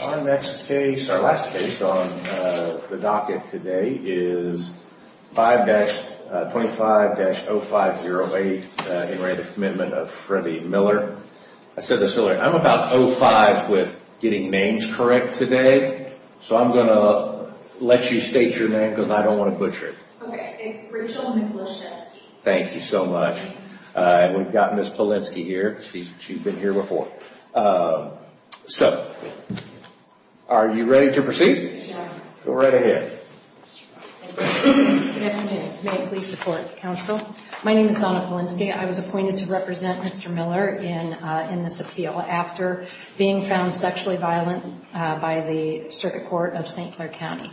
Our next case, our last case on the docket today is 5-25-0508 in re Commitment of Freddie Miller. I said this earlier, I'm about 05 with getting names correct today, so I'm going to let you state your name because I don't want to butcher it. Okay, it's Rachel Michaloshevsky. Thank you so much. We've got Ms. Polinski here, she's been here before. So, are you ready to proceed? Go right ahead. Good afternoon, may it please the court, counsel. My name is Donna Polinski, I was appointed to represent Mr. Miller in this appeal after being found sexually violent by the Circuit Court of St. Clair County.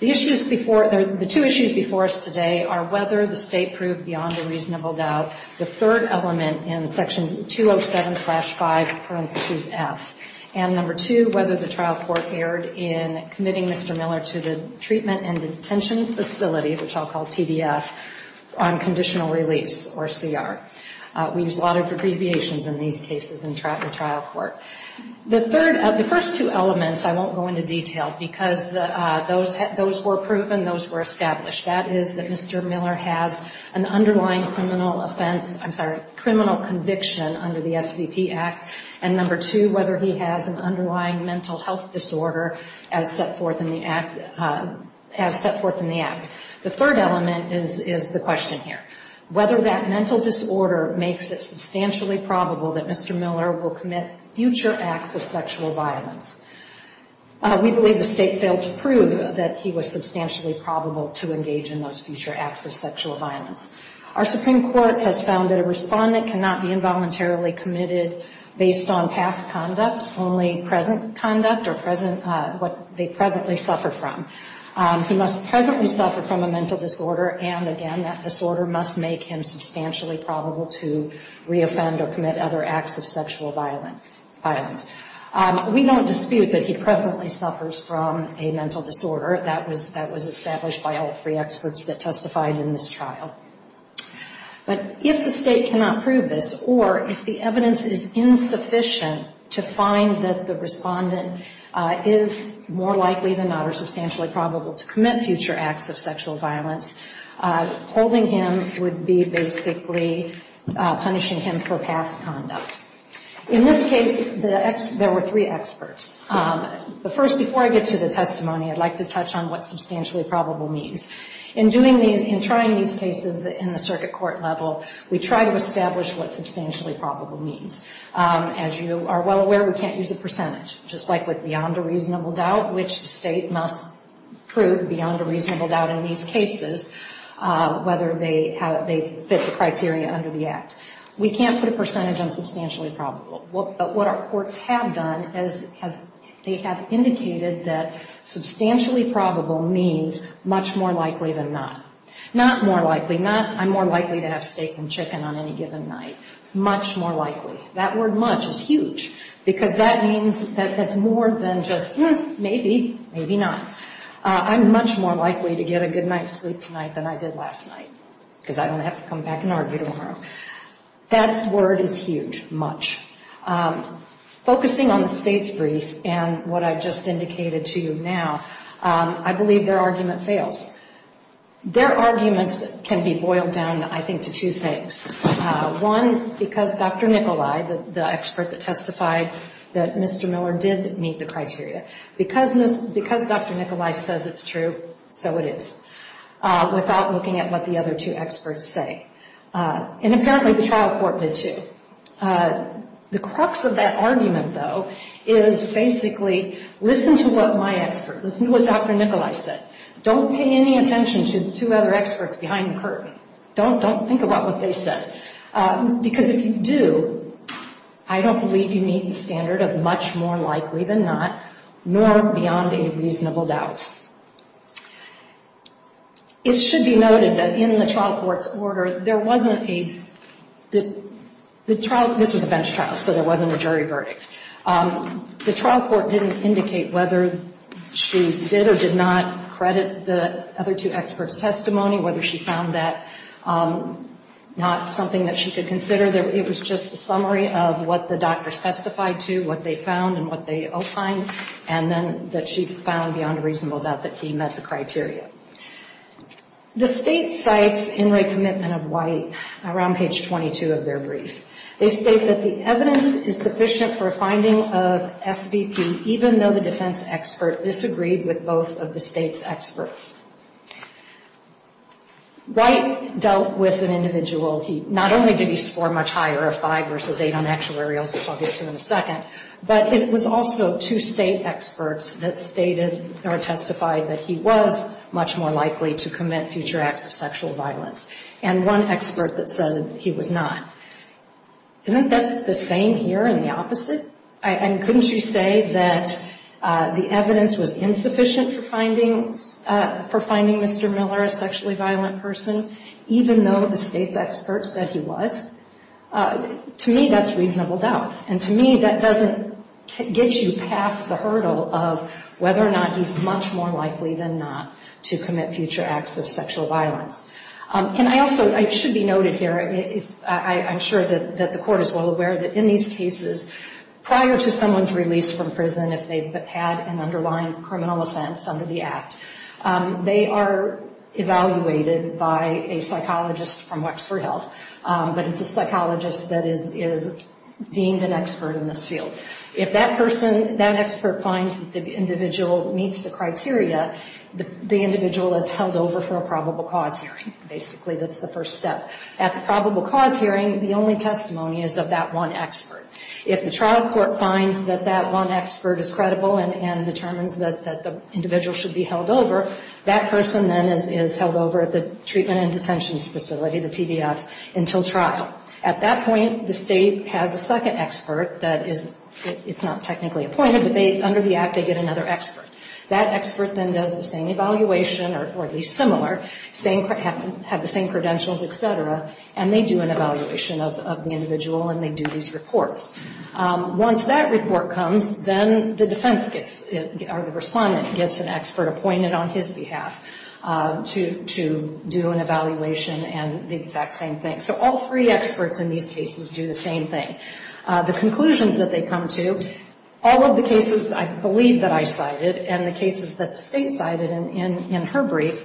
The issues before, the two issues before us today are whether the state proved beyond a reasonable doubt the third element in section 207-5, parenthesis F. And number two, whether the trial court erred in committing Mr. Miller to the treatment and detention facility, which I'll call TDF, on conditional release, or CR. We use a lot of abbreviations in these cases in trial court. The first two elements I won't go into detail because those were proven, those were established. That is that Mr. Miller has an underlying criminal offense, I'm sorry, criminal conviction under the SVP Act. And number two, whether he has an underlying mental health disorder as set forth in the Act. The third element is the question here, whether that mental disorder makes it substantially probable that Mr. Miller will commit future acts of sexual violence. We believe the state failed to prove that he was substantially probable to engage in those future acts of sexual violence. Our Supreme Court has found that a respondent cannot be involuntarily committed based on past conduct, only present conduct or what they presently suffer from. He must presently suffer from a mental disorder and, again, that disorder must make him substantially probable to reoffend or commit other acts of sexual violence. We don't dispute that he presently suffers from a mental disorder. That was established by all three experts that testified in this trial. But if the state cannot prove this or if the evidence is insufficient to find that the respondent is more likely than not or substantially probable to commit future acts of sexual violence, holding him would be basically punishing him for past conduct. In this case, there were three experts. But first, before I get to the testimony, I'd like to touch on what substantially probable means. In trying these cases in the circuit court level, we try to establish what substantially probable means. As you are well aware, we can't use a percentage, just like with beyond a reasonable doubt, which the state must prove beyond a reasonable doubt in these cases whether they fit the criteria under the Act. We can't put a percentage on substantially probable. But what our courts have done is they have indicated that substantially probable means much more likely than not. Not more likely, not I'm more likely to have steak and chicken on any given night, much more likely. That word much is huge because that means that's more than just maybe, maybe not. I'm much more likely to get a good night's sleep tonight than I did last night because I don't have to come back and argue tomorrow. That word is huge, much. Focusing on the state's brief and what I've just indicated to you now, I believe their argument fails. Their arguments can be boiled down, I think, to two things. One, because Dr. Nicolai, the expert that testified that Mr. Miller did meet the criteria, because Dr. Nicolai says it's true, so it is, without looking at what the other two experts say. And apparently the trial court did, too. The crux of that argument, though, is basically listen to what my expert, listen to what Dr. Nicolai said. Don't pay any attention to the two other experts behind the curtain. Don't think about what they said. Because if you do, I don't believe you meet the standard of much more likely than not, nor beyond a reasonable doubt. It should be noted that in the trial court's order, there wasn't a, the trial, this was a bench trial, so there wasn't a jury verdict. The trial court didn't indicate whether she did or did not credit the other two experts' testimony, whether she found that not something that she could consider. It was just a summary of what the doctors testified to, what they found and what they opined, and then that she found beyond a reasonable doubt that he met the criteria. The state cites Inright Commitment of White around page 22 of their brief. They state that the evidence is sufficient for a finding of SVP, even though the defense expert disagreed with both of the state's experts. White dealt with an individual. He not only did he score much higher, a 5 versus 8 on actuarials, which I'll get to in a second, but it was also two state experts that stated or testified that he was much more likely to commit future acts of sexual violence, and one expert that said he was not. Isn't that the same here and the opposite? I mean, couldn't you say that the evidence was insufficient for finding Mr. Miller a sexually violent person, even though the state's experts said he was? To me, that's reasonable doubt. And to me, that doesn't get you past the hurdle of whether or not he's much more likely than not to commit future acts of sexual violence. And I also, it should be noted here, I'm sure that the court is well aware that in these cases, prior to someone's release from prison, if they've had an underlying criminal offense under the act, they are evaluated by a psychologist from Wexford Health. But it's a psychologist that is deemed an expert in this field. If that person, that expert finds that the individual meets the criteria, the individual is held over for a probable cause hearing. Basically, that's the first step. At the probable cause hearing, the only testimony is of that one expert. If the trial court finds that that one expert is credible and determines that the individual should be held over, that person then is held over at the treatment and detention facility, the TDF, until trial. At that point, the state has a second expert that is, it's not technically appointed, but under the act, they get another expert. That expert then does the same evaluation, or at least similar, have the same credentials, et cetera, and they do an evaluation of the individual and they do these reports. Once that report comes, then the defense gets, or the respondent gets an expert appointed on his behalf to do an evaluation and the exact same thing. So all three experts in these cases do the same thing. The conclusions that they come to, all of the cases I believe that I cited and the cases that the state cited in her brief,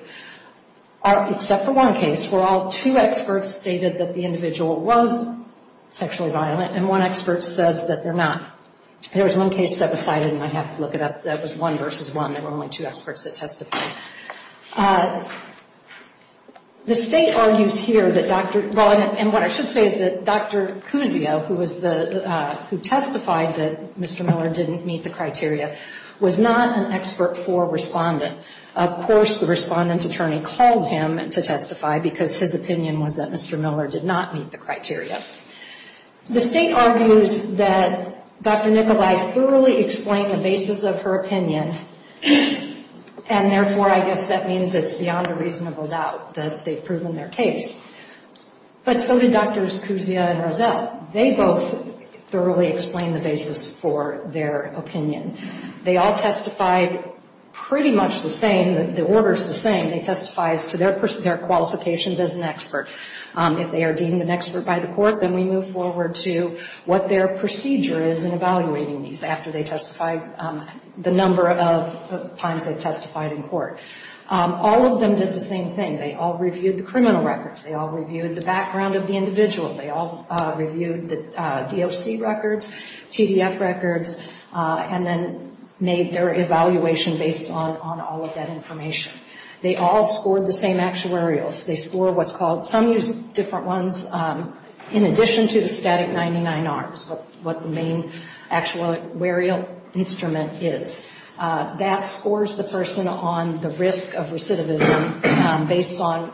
except for one case where all two experts stated that the individual was sexually violent and one expert says that they're not. There was one case that was cited, and I have to look it up, that was one versus one. There were only two experts that testified. The state argues here that Dr., and what I should say is that Dr. Cusio, who testified that Mr. Miller didn't meet the criteria, was not an expert for respondent. Of course, the respondent's attorney called him to testify because his opinion was that Mr. Miller did not meet the criteria. The state argues that Dr. Nicolai thoroughly explained the basis of her opinion, and therefore I guess that means it's beyond a reasonable doubt that they've proven their case. But so did Drs. Cusio and Rozelle. They both thoroughly explained the basis for their opinion. They all testified pretty much the same. The order's the same. They testify as to their qualifications as an expert. If they are deemed an expert by the court, then we move forward to what their procedure is in evaluating these after they testify the number of times they've testified in court. All of them did the same thing. They all reviewed the criminal records. They all reviewed the background of the individual. They all reviewed the DOC records, TDF records, and then made their evaluation based on all of that information. They all scored the same actuarials. They scored what's called some use different ones in addition to the static 99Rs, what the main actuarial instrument is. That scores the person on the risk of recidivism based on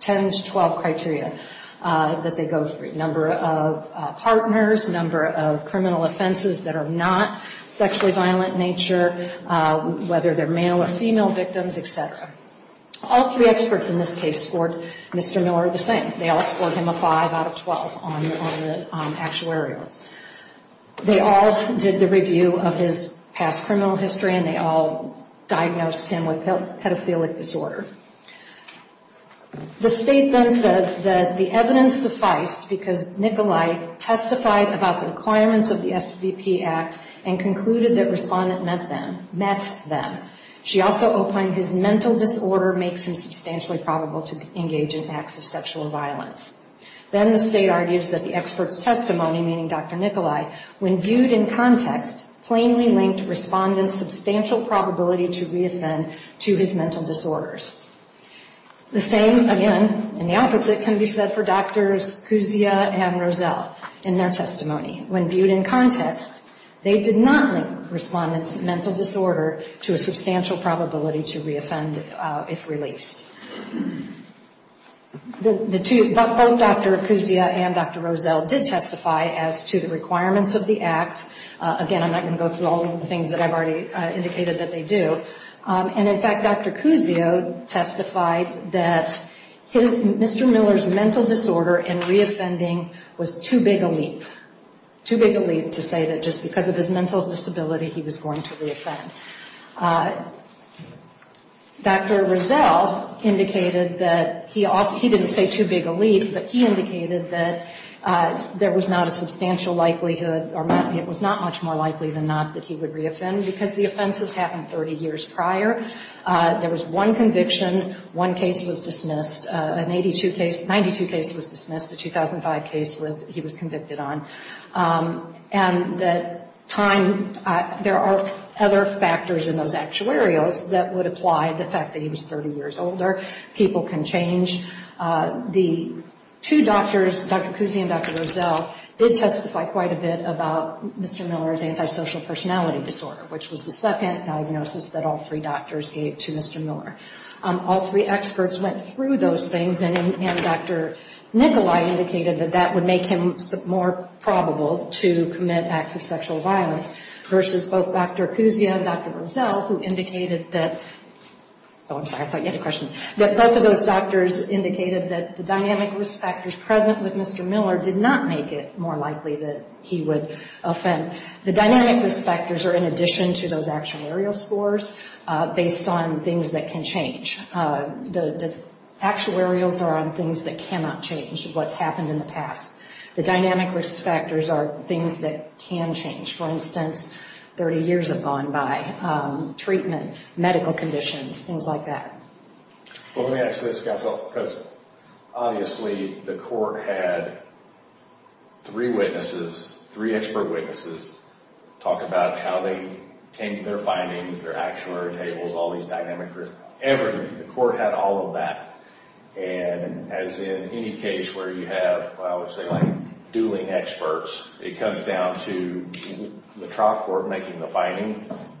10 to 12 criteria that they go through, number of partners, number of criminal offenses that are not sexually violent in nature, whether they're male or female victims, et cetera. All three experts in this case scored Mr. Miller the same. They all scored him a 5 out of 12 on the actuarials. They all did the review of his past criminal history, and they all diagnosed him with pedophilic disorder. The state then says that the evidence sufficed because Nikolai testified about the requirements of the SBP Act and concluded that respondent met them. She also opined his mental disorder makes him substantially probable to engage in acts of sexual violence. Then the state argues that the expert's testimony, meaning Dr. Nikolai, when viewed in context, plainly linked respondent's substantial probability to reoffend to his mental disorders. The same, again, and the opposite can be said for Drs. Kuzia and Rozelle in their testimony. When viewed in context, they did not link respondent's mental disorder to a substantial probability to reoffend if released. Both Dr. Kuzia and Dr. Rozelle did testify as to the requirements of the act. Again, I'm not going to go through all of the things that I've already indicated that they do. And, in fact, Dr. Kuzio testified that Mr. Miller's mental disorder and reoffending was too big a leap, too big a leap to say that just because of his mental disability he was going to reoffend. Dr. Rozelle indicated that he also he didn't say too big a leap, but he indicated that there was not a substantial likelihood or it was not much more likely than not that he would reoffend because the offenses happened 30 years prior. There was one conviction. One case was dismissed. An 82 case, 92 case was dismissed. A 2005 case was he was convicted on. And the time, there are other factors in those actuarials that would apply the fact that he was 30 years older. People can change. The two doctors, Dr. Kuzia and Dr. Rozelle, did testify quite a bit about Mr. Miller's antisocial personality disorder, which was the second diagnosis that all three doctors gave to Mr. Miller. All three experts went through those things, and Dr. Nicolai indicated that that would make him more probable to commit acts of sexual violence versus both Dr. Kuzia and Dr. Rozelle who indicated that, oh, I'm sorry, I thought you had a question, that both of those doctors indicated that the dynamic risk factors present with Mr. Miller did not make it more likely that he would offend. The dynamic risk factors are in addition to those actuarial scores based on things that can change. The actuarials are on things that cannot change what's happened in the past. The dynamic risk factors are things that can change. For instance, 30 years have gone by, treatment, medical conditions, things like that. Well, let me ask this, counsel, because obviously the court had three witnesses, three expert witnesses, talk about how they came to their findings, their actuarial tables, all these dynamic risks. The court had all of that, and as in any case where you have, I would say, like dueling experts, it comes down to the trial court making the finding,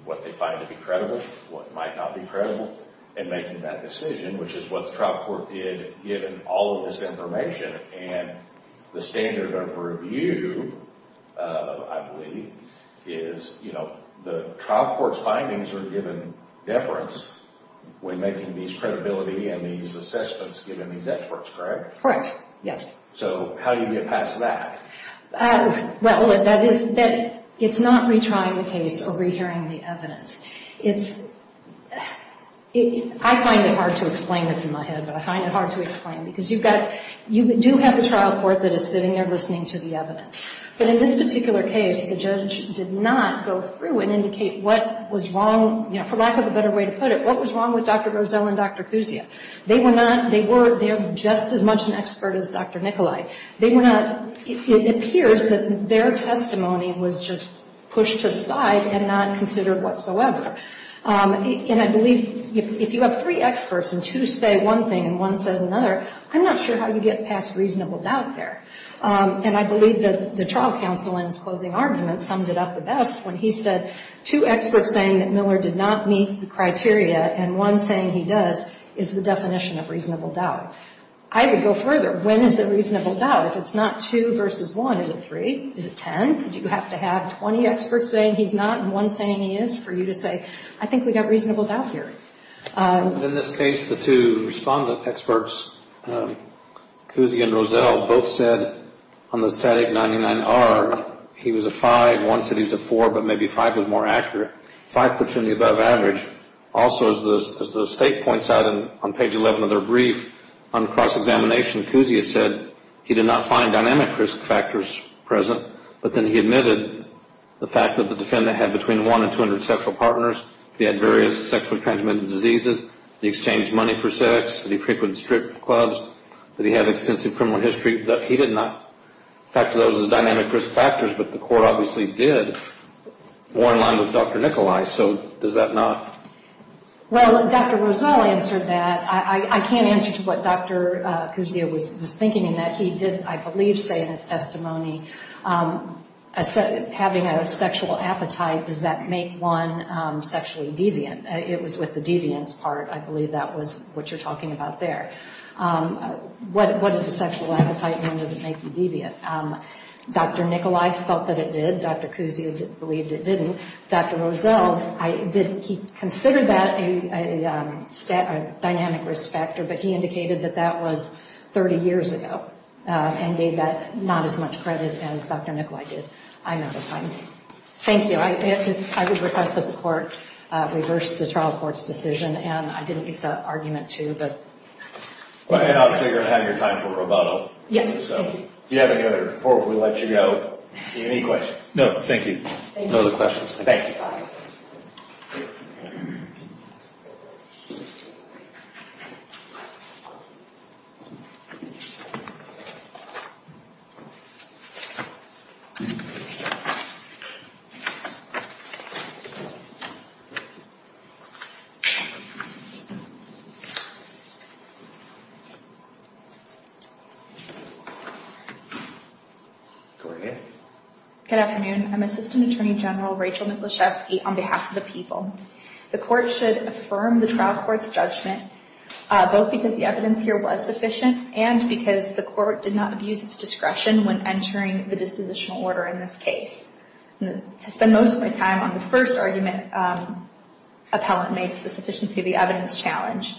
what they find to be credible, what might not be credible, and making that decision, which is what the trial court did given all of this information. And the standard of review, I believe, is the trial court's findings are given deference when making these credibility and these assessments given these experts, correct? Correct, yes. So how do you get past that? Well, that is, it's not retrying the case or rehearing the evidence. It's, I find it hard to explain, it's in my head, but I find it hard to explain, because you've got, you do have the trial court that is sitting there listening to the evidence. But in this particular case, the judge did not go through and indicate what was wrong, for lack of a better way to put it, what was wrong with Dr. Rozell and Dr. Kuzia. They were not, they were just as much an expert as Dr. Nikolai. They were not, it appears that their testimony was just pushed to the side and not considered whatsoever. And I believe if you have three experts and two say one thing and one says another, I'm not sure how you get past reasonable doubt there. And I believe that the trial counsel in his closing argument summed it up the best when he said, two experts saying that Miller did not meet the criteria and one saying he does, is the definition of reasonable doubt. I would go further. When is it reasonable doubt? If it's not two versus one, is it three? Is it ten? Do you have to have 20 experts saying he's not and one saying he is for you to say, I think we've got reasonable doubt here. In this case, the two respondent experts, Kuzia and Rozell, both said on the static 99R, he was a five, one said he's a four, but maybe five was more accurate. Five puts him in the above average. Also, as the state points out on page 11 of their brief, on cross-examination, Kuzia said he did not find dynamic risk factors present, but then he admitted the fact that the defendant had between one and 200 sexual partners, he had various sexually transmitted diseases, he exchanged money for sex, that he frequented strip clubs, that he had extensive criminal history. He did not factor those as dynamic risk factors, but the court obviously did. More in line with Dr. Nicolai, so does that not? Well, Dr. Rozell answered that. I can't answer to what Dr. Kuzia was thinking in that. He did, I believe, say in his testimony, having a sexual appetite, does that make one sexually deviant? It was with the deviance part. I believe that was what you're talking about there. What is a sexual appetite? When does it make you deviant? Dr. Nicolai felt that it did. Dr. Kuzia believed it didn't. Dr. Rozell, he considered that a dynamic risk factor, but he indicated that that was 30 years ago and gave that not as much credit as Dr. Nicolai did. I'm out of time. Thank you. I would request that the court reverse the trial court's decision, and I didn't get the argument to, but. And I'll take your time for rebuttal. Yes. If you have any other report, we'll let you go. Any questions? No, thank you. No other questions. Thank you. Go ahead. Good afternoon. I'm Assistant Attorney General Rachel Michalczewski on behalf of the people. The court should affirm the trial court's judgment, both because the evidence here was sufficient and because the court did not abuse its discretion when entering the dispositional order in this case. To spend most of my time on the first argument, appellant makes the sufficiency of the evidence challenge.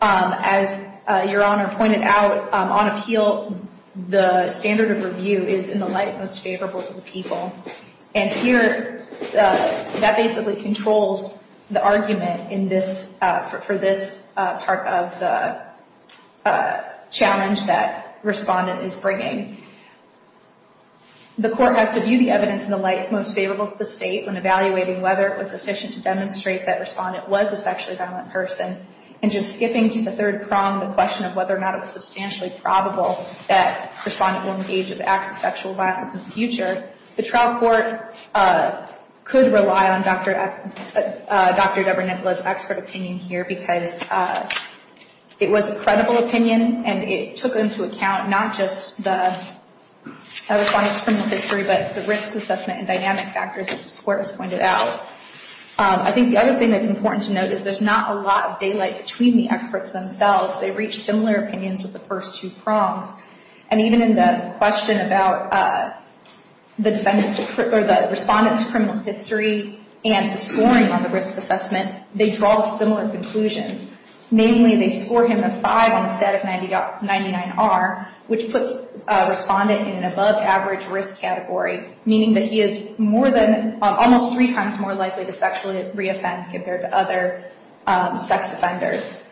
As Your Honor pointed out, on appeal, the standard of review is in the light most favorable to the people. And here, that basically controls the argument for this part of the challenge that respondent is bringing. The court has to view the evidence in the light most favorable to the state when evaluating whether it was sufficient to demonstrate that respondent was a sexually violent person. And just skipping to the third prong, the question of whether or not it was substantially probable that respondent will engage with acts of sexual violence in the future, the trial court could rely on Dr. Dubber-Nicholas' expert opinion here, because it was a credible opinion and it took into account not just the respondent's criminal history, but the risk assessment and dynamic factors that this court has pointed out. I think the other thing that's important to note is there's not a lot of daylight between the experts themselves. They reach similar opinions with the first two prongs. And even in the question about the respondent's criminal history and the scoring on the risk assessment, they draw similar conclusions. Namely, they score him a 5 on a set of 99R, which puts a respondent in an above-average risk category, meaning that he is almost three times more likely to sexually re-offend compared to other sex offenders.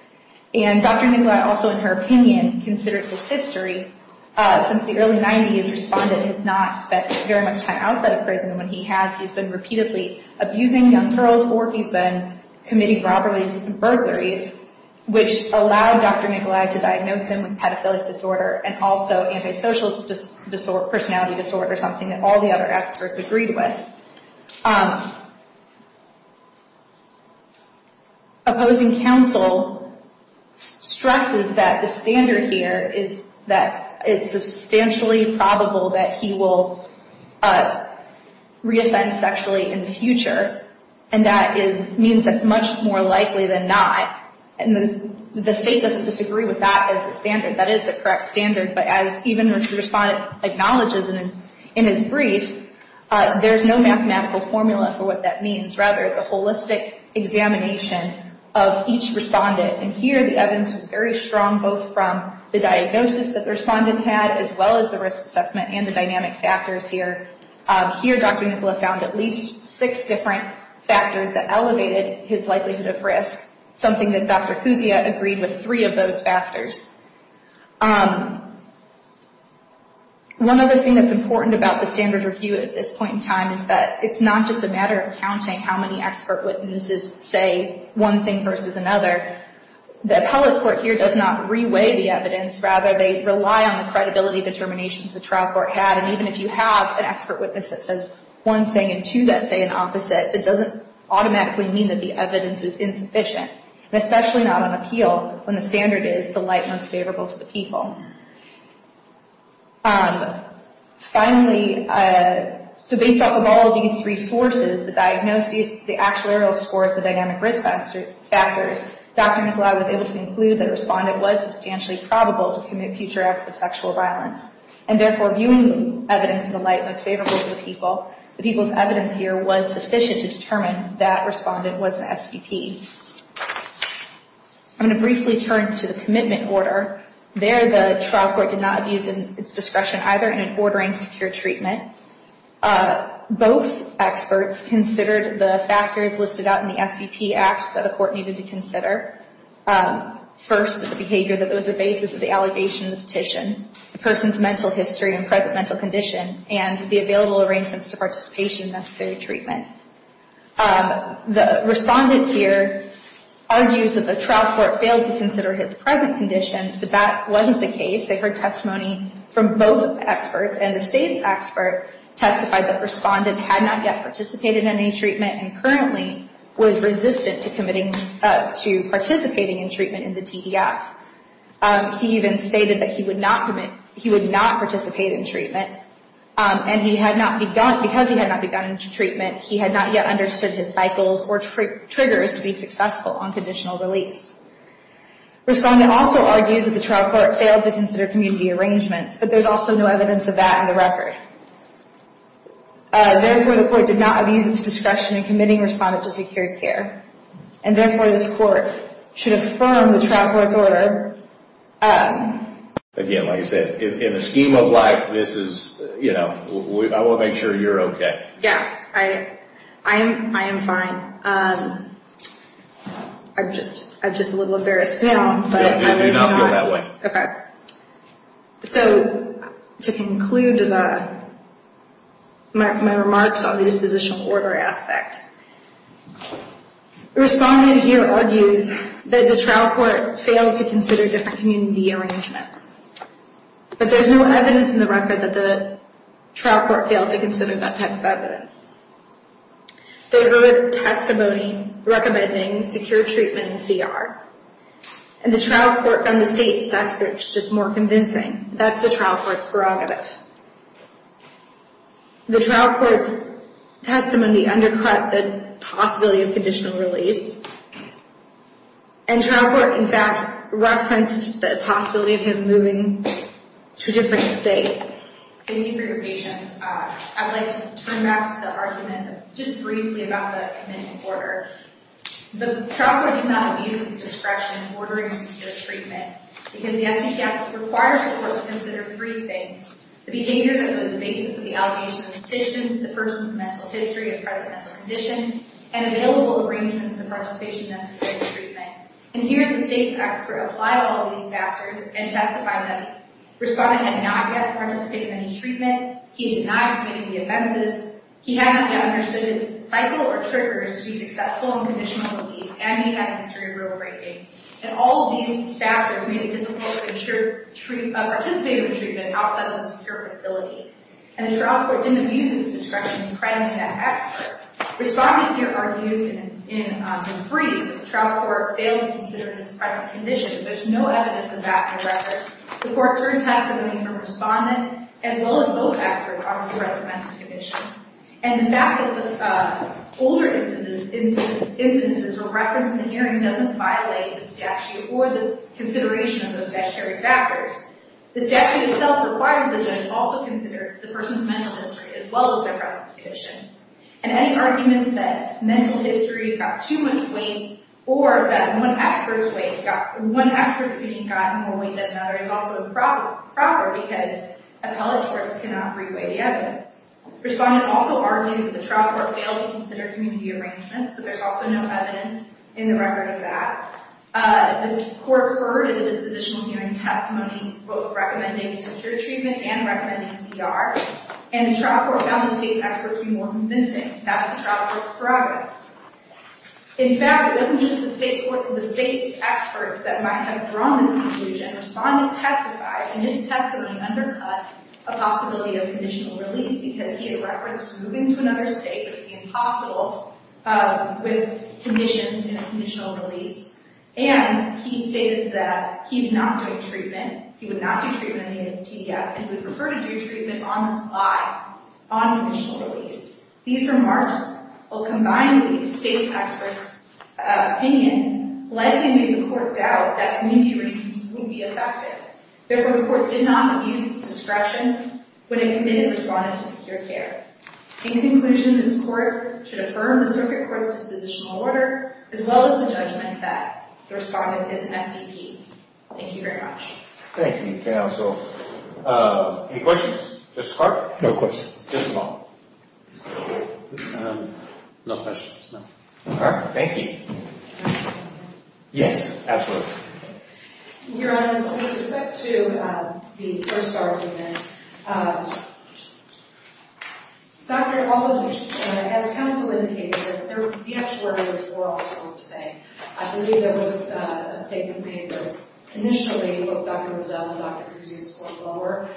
And Dr. Nicholas also, in her opinion, considered this history since the early 90s. Respondent has not spent very much time outside of prison. When he has, he's been repeatedly abusing young girls, or he's been committing robberies and burglaries, which allowed Dr. Nicholas to diagnose him with pedophilic disorder and also antisocial personality disorder, something that all the other experts agreed with. Opposing counsel stresses that the standard here is that it's substantially probable that he will re-offend sexually in the future, and that means that it's much more likely than not. And the state doesn't disagree with that as the standard. That is the correct standard. But as even the respondent acknowledges in his brief, there's no mathematical formula for what that means. Rather, it's a holistic examination of each respondent. And here, the evidence is very strong, both from the diagnosis that the respondent had, as well as the risk assessment and the dynamic factors here. Here, Dr. Nicholas found at least six different factors that elevated his likelihood of risk, something that Dr. Kuzia agreed with three of those factors. One other thing that's important about the standard review at this point in time is that it's not just a matter of counting how many expert witnesses say one thing versus another. The appellate court here does not re-weigh the evidence. Rather, they rely on the credibility determinations the trial court had. And even if you have an expert witness that says one thing and two that say the opposite, it doesn't automatically mean that the evidence is insufficient, especially not on appeal when the standard is the light most favorable to the people. Finally, so based off of all of these three sources, the diagnosis, the actuarial scores, the dynamic risk factors, Dr. Nicolai was able to conclude that a respondent was substantially probable to commit future acts of sexual violence. And therefore, viewing evidence in the light most favorable to the people, the people's evidence here was sufficient to determine that respondent was an STP. I'm going to briefly turn to the commitment order. There, the trial court did not abuse its discretion either in ordering secure treatment. Both experts considered the factors listed out in the STP Act that a court needed to consider. First, the behavior that was the basis of the allegation of the petition, the person's mental history and present mental condition, and the available arrangements to participation in necessary treatment. The respondent here argues that the trial court failed to consider his present condition, but that wasn't the case. They heard testimony from both experts, and the state's expert testified that the respondent had not yet participated in any treatment and currently was resistant to participating in treatment in the TDS. He even stated that he would not participate in treatment, and because he had not begun treatment, he had not yet understood his cycles or triggers to be successful on conditional release. Respondent also argues that the trial court failed to consider community arrangements, but there's also no evidence of that in the record. Therefore, the court did not abuse its discretion in committing respondent to secure care. And therefore, this court should affirm the trial court's order. Again, like I said, in the scheme of life, I want to make sure you're okay. Yeah, I am fine. I'm just a little embarrassed now. Yeah, do not feel that way. Okay. So, to conclude my remarks on the dispositional order aspect, respondent here argues that the trial court failed to consider different community arrangements, but there's no evidence in the record that the trial court failed to consider that type of evidence. They heard testimony recommending secure treatment in CR, and the trial court from the state's expert is just more convincing. That's the trial court's prerogative. The trial court's testimony undercut the possibility of conditional release, and trial court, in fact, referenced the possibility of him moving to a different state. Thank you for your patience. I'd like to turn back to the argument just briefly about the commitment order. The trial court did not abuse its discretion in ordering secure treatment because the SECF requires the court to consider three things, the behavior that was the basis of the allegation of the petition, the person's mental history of present mental condition, and available arrangements of participation necessary for treatment. And here, the state's expert applied all these factors and testified that respondent had not yet participated in any treatment, he had not committed the offenses, he had not yet understood his cycle or triggers to be successful in conditional release, and he had history of road breaking. And all of these factors made it difficult to participate in treatment outside of a secure facility. And the trial court didn't abuse its discretion in crediting that expert. Respondent here argues in this brief that the trial court failed to consider his present condition. There's no evidence of that in the record. The court's own testimony from respondent as well as both experts on his present mental condition. And the fact that the older instances were referenced in the hearing doesn't violate the statute or the consideration of those statutory factors. The statute itself requires the judge also consider the person's mental history as well as their present condition. And any arguments that mental history got too much weight or that one expert's opinion got more weight than another is also improper because appellate courts cannot re-weigh the evidence. Respondent also argues that the trial court failed to consider community arrangements, but there's also no evidence in the record of that. The court heard the dispositional hearing testimony both recommending secure treatment and recommending CR, and the trial court found the state's experts to be more convincing. That's the trial court's prerogative. In fact, it wasn't just the state's experts that might have drawn this conclusion. Respondent testified, and his testimony undercut a possibility of conditional release because he had referenced moving to another state as being possible with conditions in a conditional release. And he stated that he's not doing treatment, he would not do treatment in a TDF, and would prefer to do treatment on the slide on conditional release. These remarks will combine with the state's experts' opinion, likely made the court doubt that community arrangements would be effective. Therefore, the court did not use its discretion when it committed Respondent to secure care. In conclusion, this court should affirm the circuit court's dispositional order, as well as the judgment that the Respondent is an SCP. Thank you very much. Thank you, counsel. Any questions? Justice Clark? No questions. Justice Long? No questions. All right. Thank you. Yes, absolutely. Your Honor, with respect to the first argument, Dr. Aldrich, as counsel indicated, the actuaries were all sort of the same. I believe there was a statement made that initially what Dr. Rizzo and Dr. Cruz used went lower,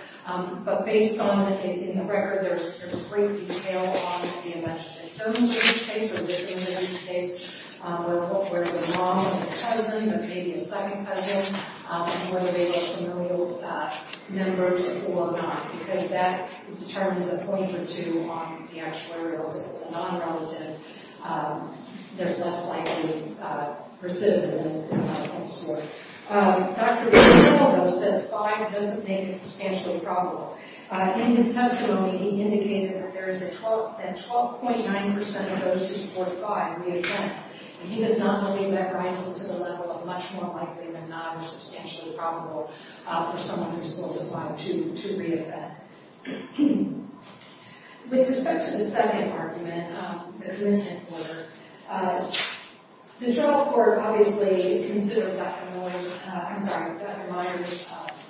but based on the record, there's great detail on the events of the Jones case, or the Ingram case, where the mom was a cousin, or maybe a second cousin, and whether they were familial members or not, because that determines a point or two on the actuarials. If it's a non-relative, there's less likely recidivism in this court. Dr. Rizzo, though, said that five doesn't make it substantially probable. In his testimony, he indicated that 12.9% of those who support five reoffend, and he does not believe that rises to the level of much more likely than not or substantially probable for someone who's still defiant to reoffend. With respect to the second argument, the commitment order, the trial court obviously considered Dr. Moyer's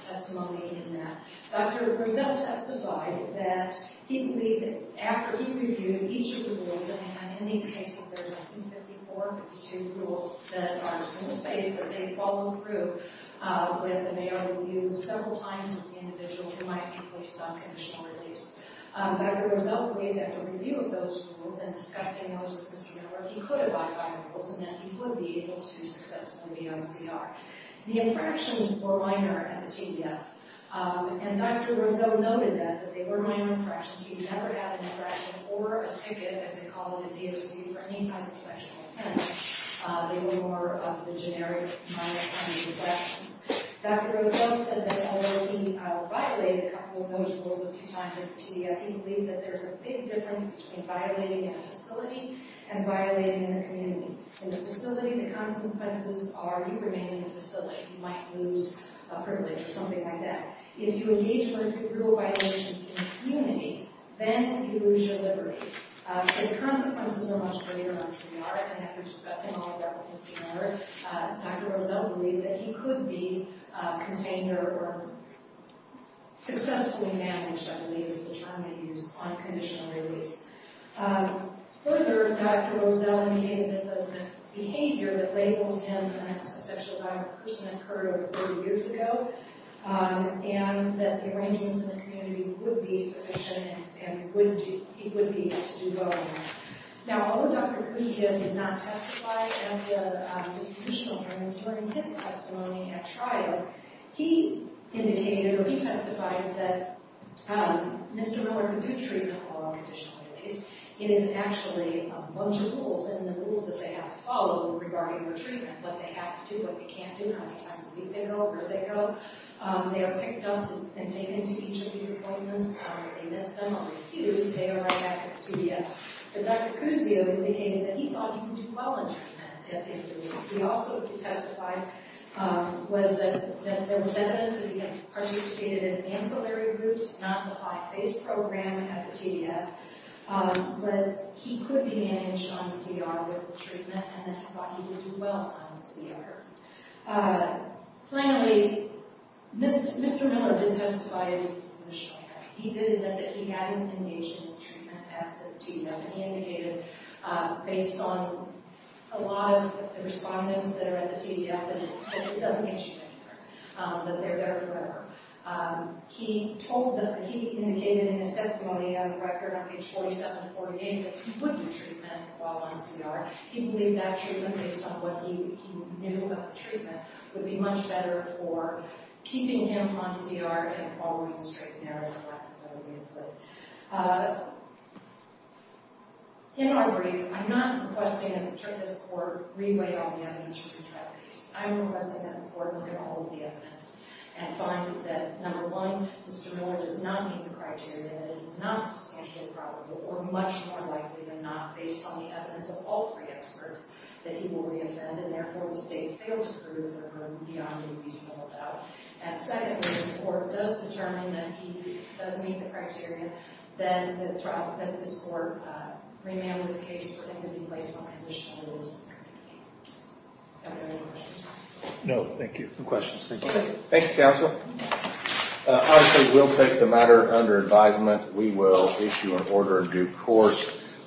testimony in that. Dr. Rizzo testified that he believed that after he reviewed each of the rules at hand, in these cases, there's, I think, 54, 52 rules that are in the space that they follow through with a mayoral review several times with the individual who might be placed on conditional release. Dr. Rizzo believed that a review of those rules and discussing those with Mr. Moyer, he could abide by the rules and that he would be able to successfully be on CR. The infractions were minor at the TBI, and Dr. Rizzo noted that they were minor infractions. He never had an infraction or a ticket, as they call them at DOC, for any type of sexual offense. They were more of the generic minor kind of infractions. Dr. Rizzo said that although he violated a couple of those rules a few times at the TBI, he believed that there's a big difference between violating in a facility and violating in a community. In a facility, the consequences are you remain in the facility. You might lose a privilege or something like that. If you engage with brutal violations in a community, then you lose your liberty. So the consequences are much greater on CR, and after discussing all of that with Mr. Moyer, Dr. Rizzo believed that he could be contained or successfully managed, I believe is the term they use, on conditional release. Further, Dr. Rizzo indicated that the behavior that labels him as a sexually violent person occurred over 30 years ago and that the arrangements in the community would be sufficient and he would be able to do well in them. Now, although Dr. Cruz did not testify at the dispositional hearing during his testimony at trial, he indicated or he testified that Mr. Miller could do treatment while on conditional release. It is actually a bunch of rules, and the rules that they have to follow regarding their treatment, what they have to do, what they can't do, how many times a week they go, where they go. They are picked up and taken to each of these appointments. They miss them or they're used. They are right back at the TBF. But Dr. Cruz indicated that he thought he could do well in treatment at the TBF. He also testified that there was evidence that he had participated in ancillary groups, not the high-phase program at the TBF, but he could be managed on CR with treatment and that he thought he could do well on CR. Finally, Mr. Miller did testify at his dispositional hearing. He did admit that he hadn't engaged in the treatment at the TBF, and he indicated based on a lot of the respondents that are at the TBF that it doesn't get you anywhere, that they're better forever. He told them, he indicated in his testimony on the record on page 47 and 48 that he wouldn't do treatment while on CR. He believed that treatment, based on what he knew about the treatment, would be much better for keeping him on CR and following the straight and narrow path that we had put. In our brief, I'm not requesting that the court re-weigh all the evidence from the trial case. I'm requesting that the court look at all of the evidence and find that, number one, Mr. Miller does not meet the criteria that it is not substantially probable or much more likely than not, based on the evidence of all three experts, that he will re-offend and, therefore, the state failed to prove him or her beyond a reasonable doubt. And, second, if the court does determine that he does meet the criteria, then the trial, that this court remanded his case for him to be placed on conditional liability. No, thank you. No questions. Thank you. Thank you, counsel. Honestly, we'll take the matter under advisement. We will issue an order of due course.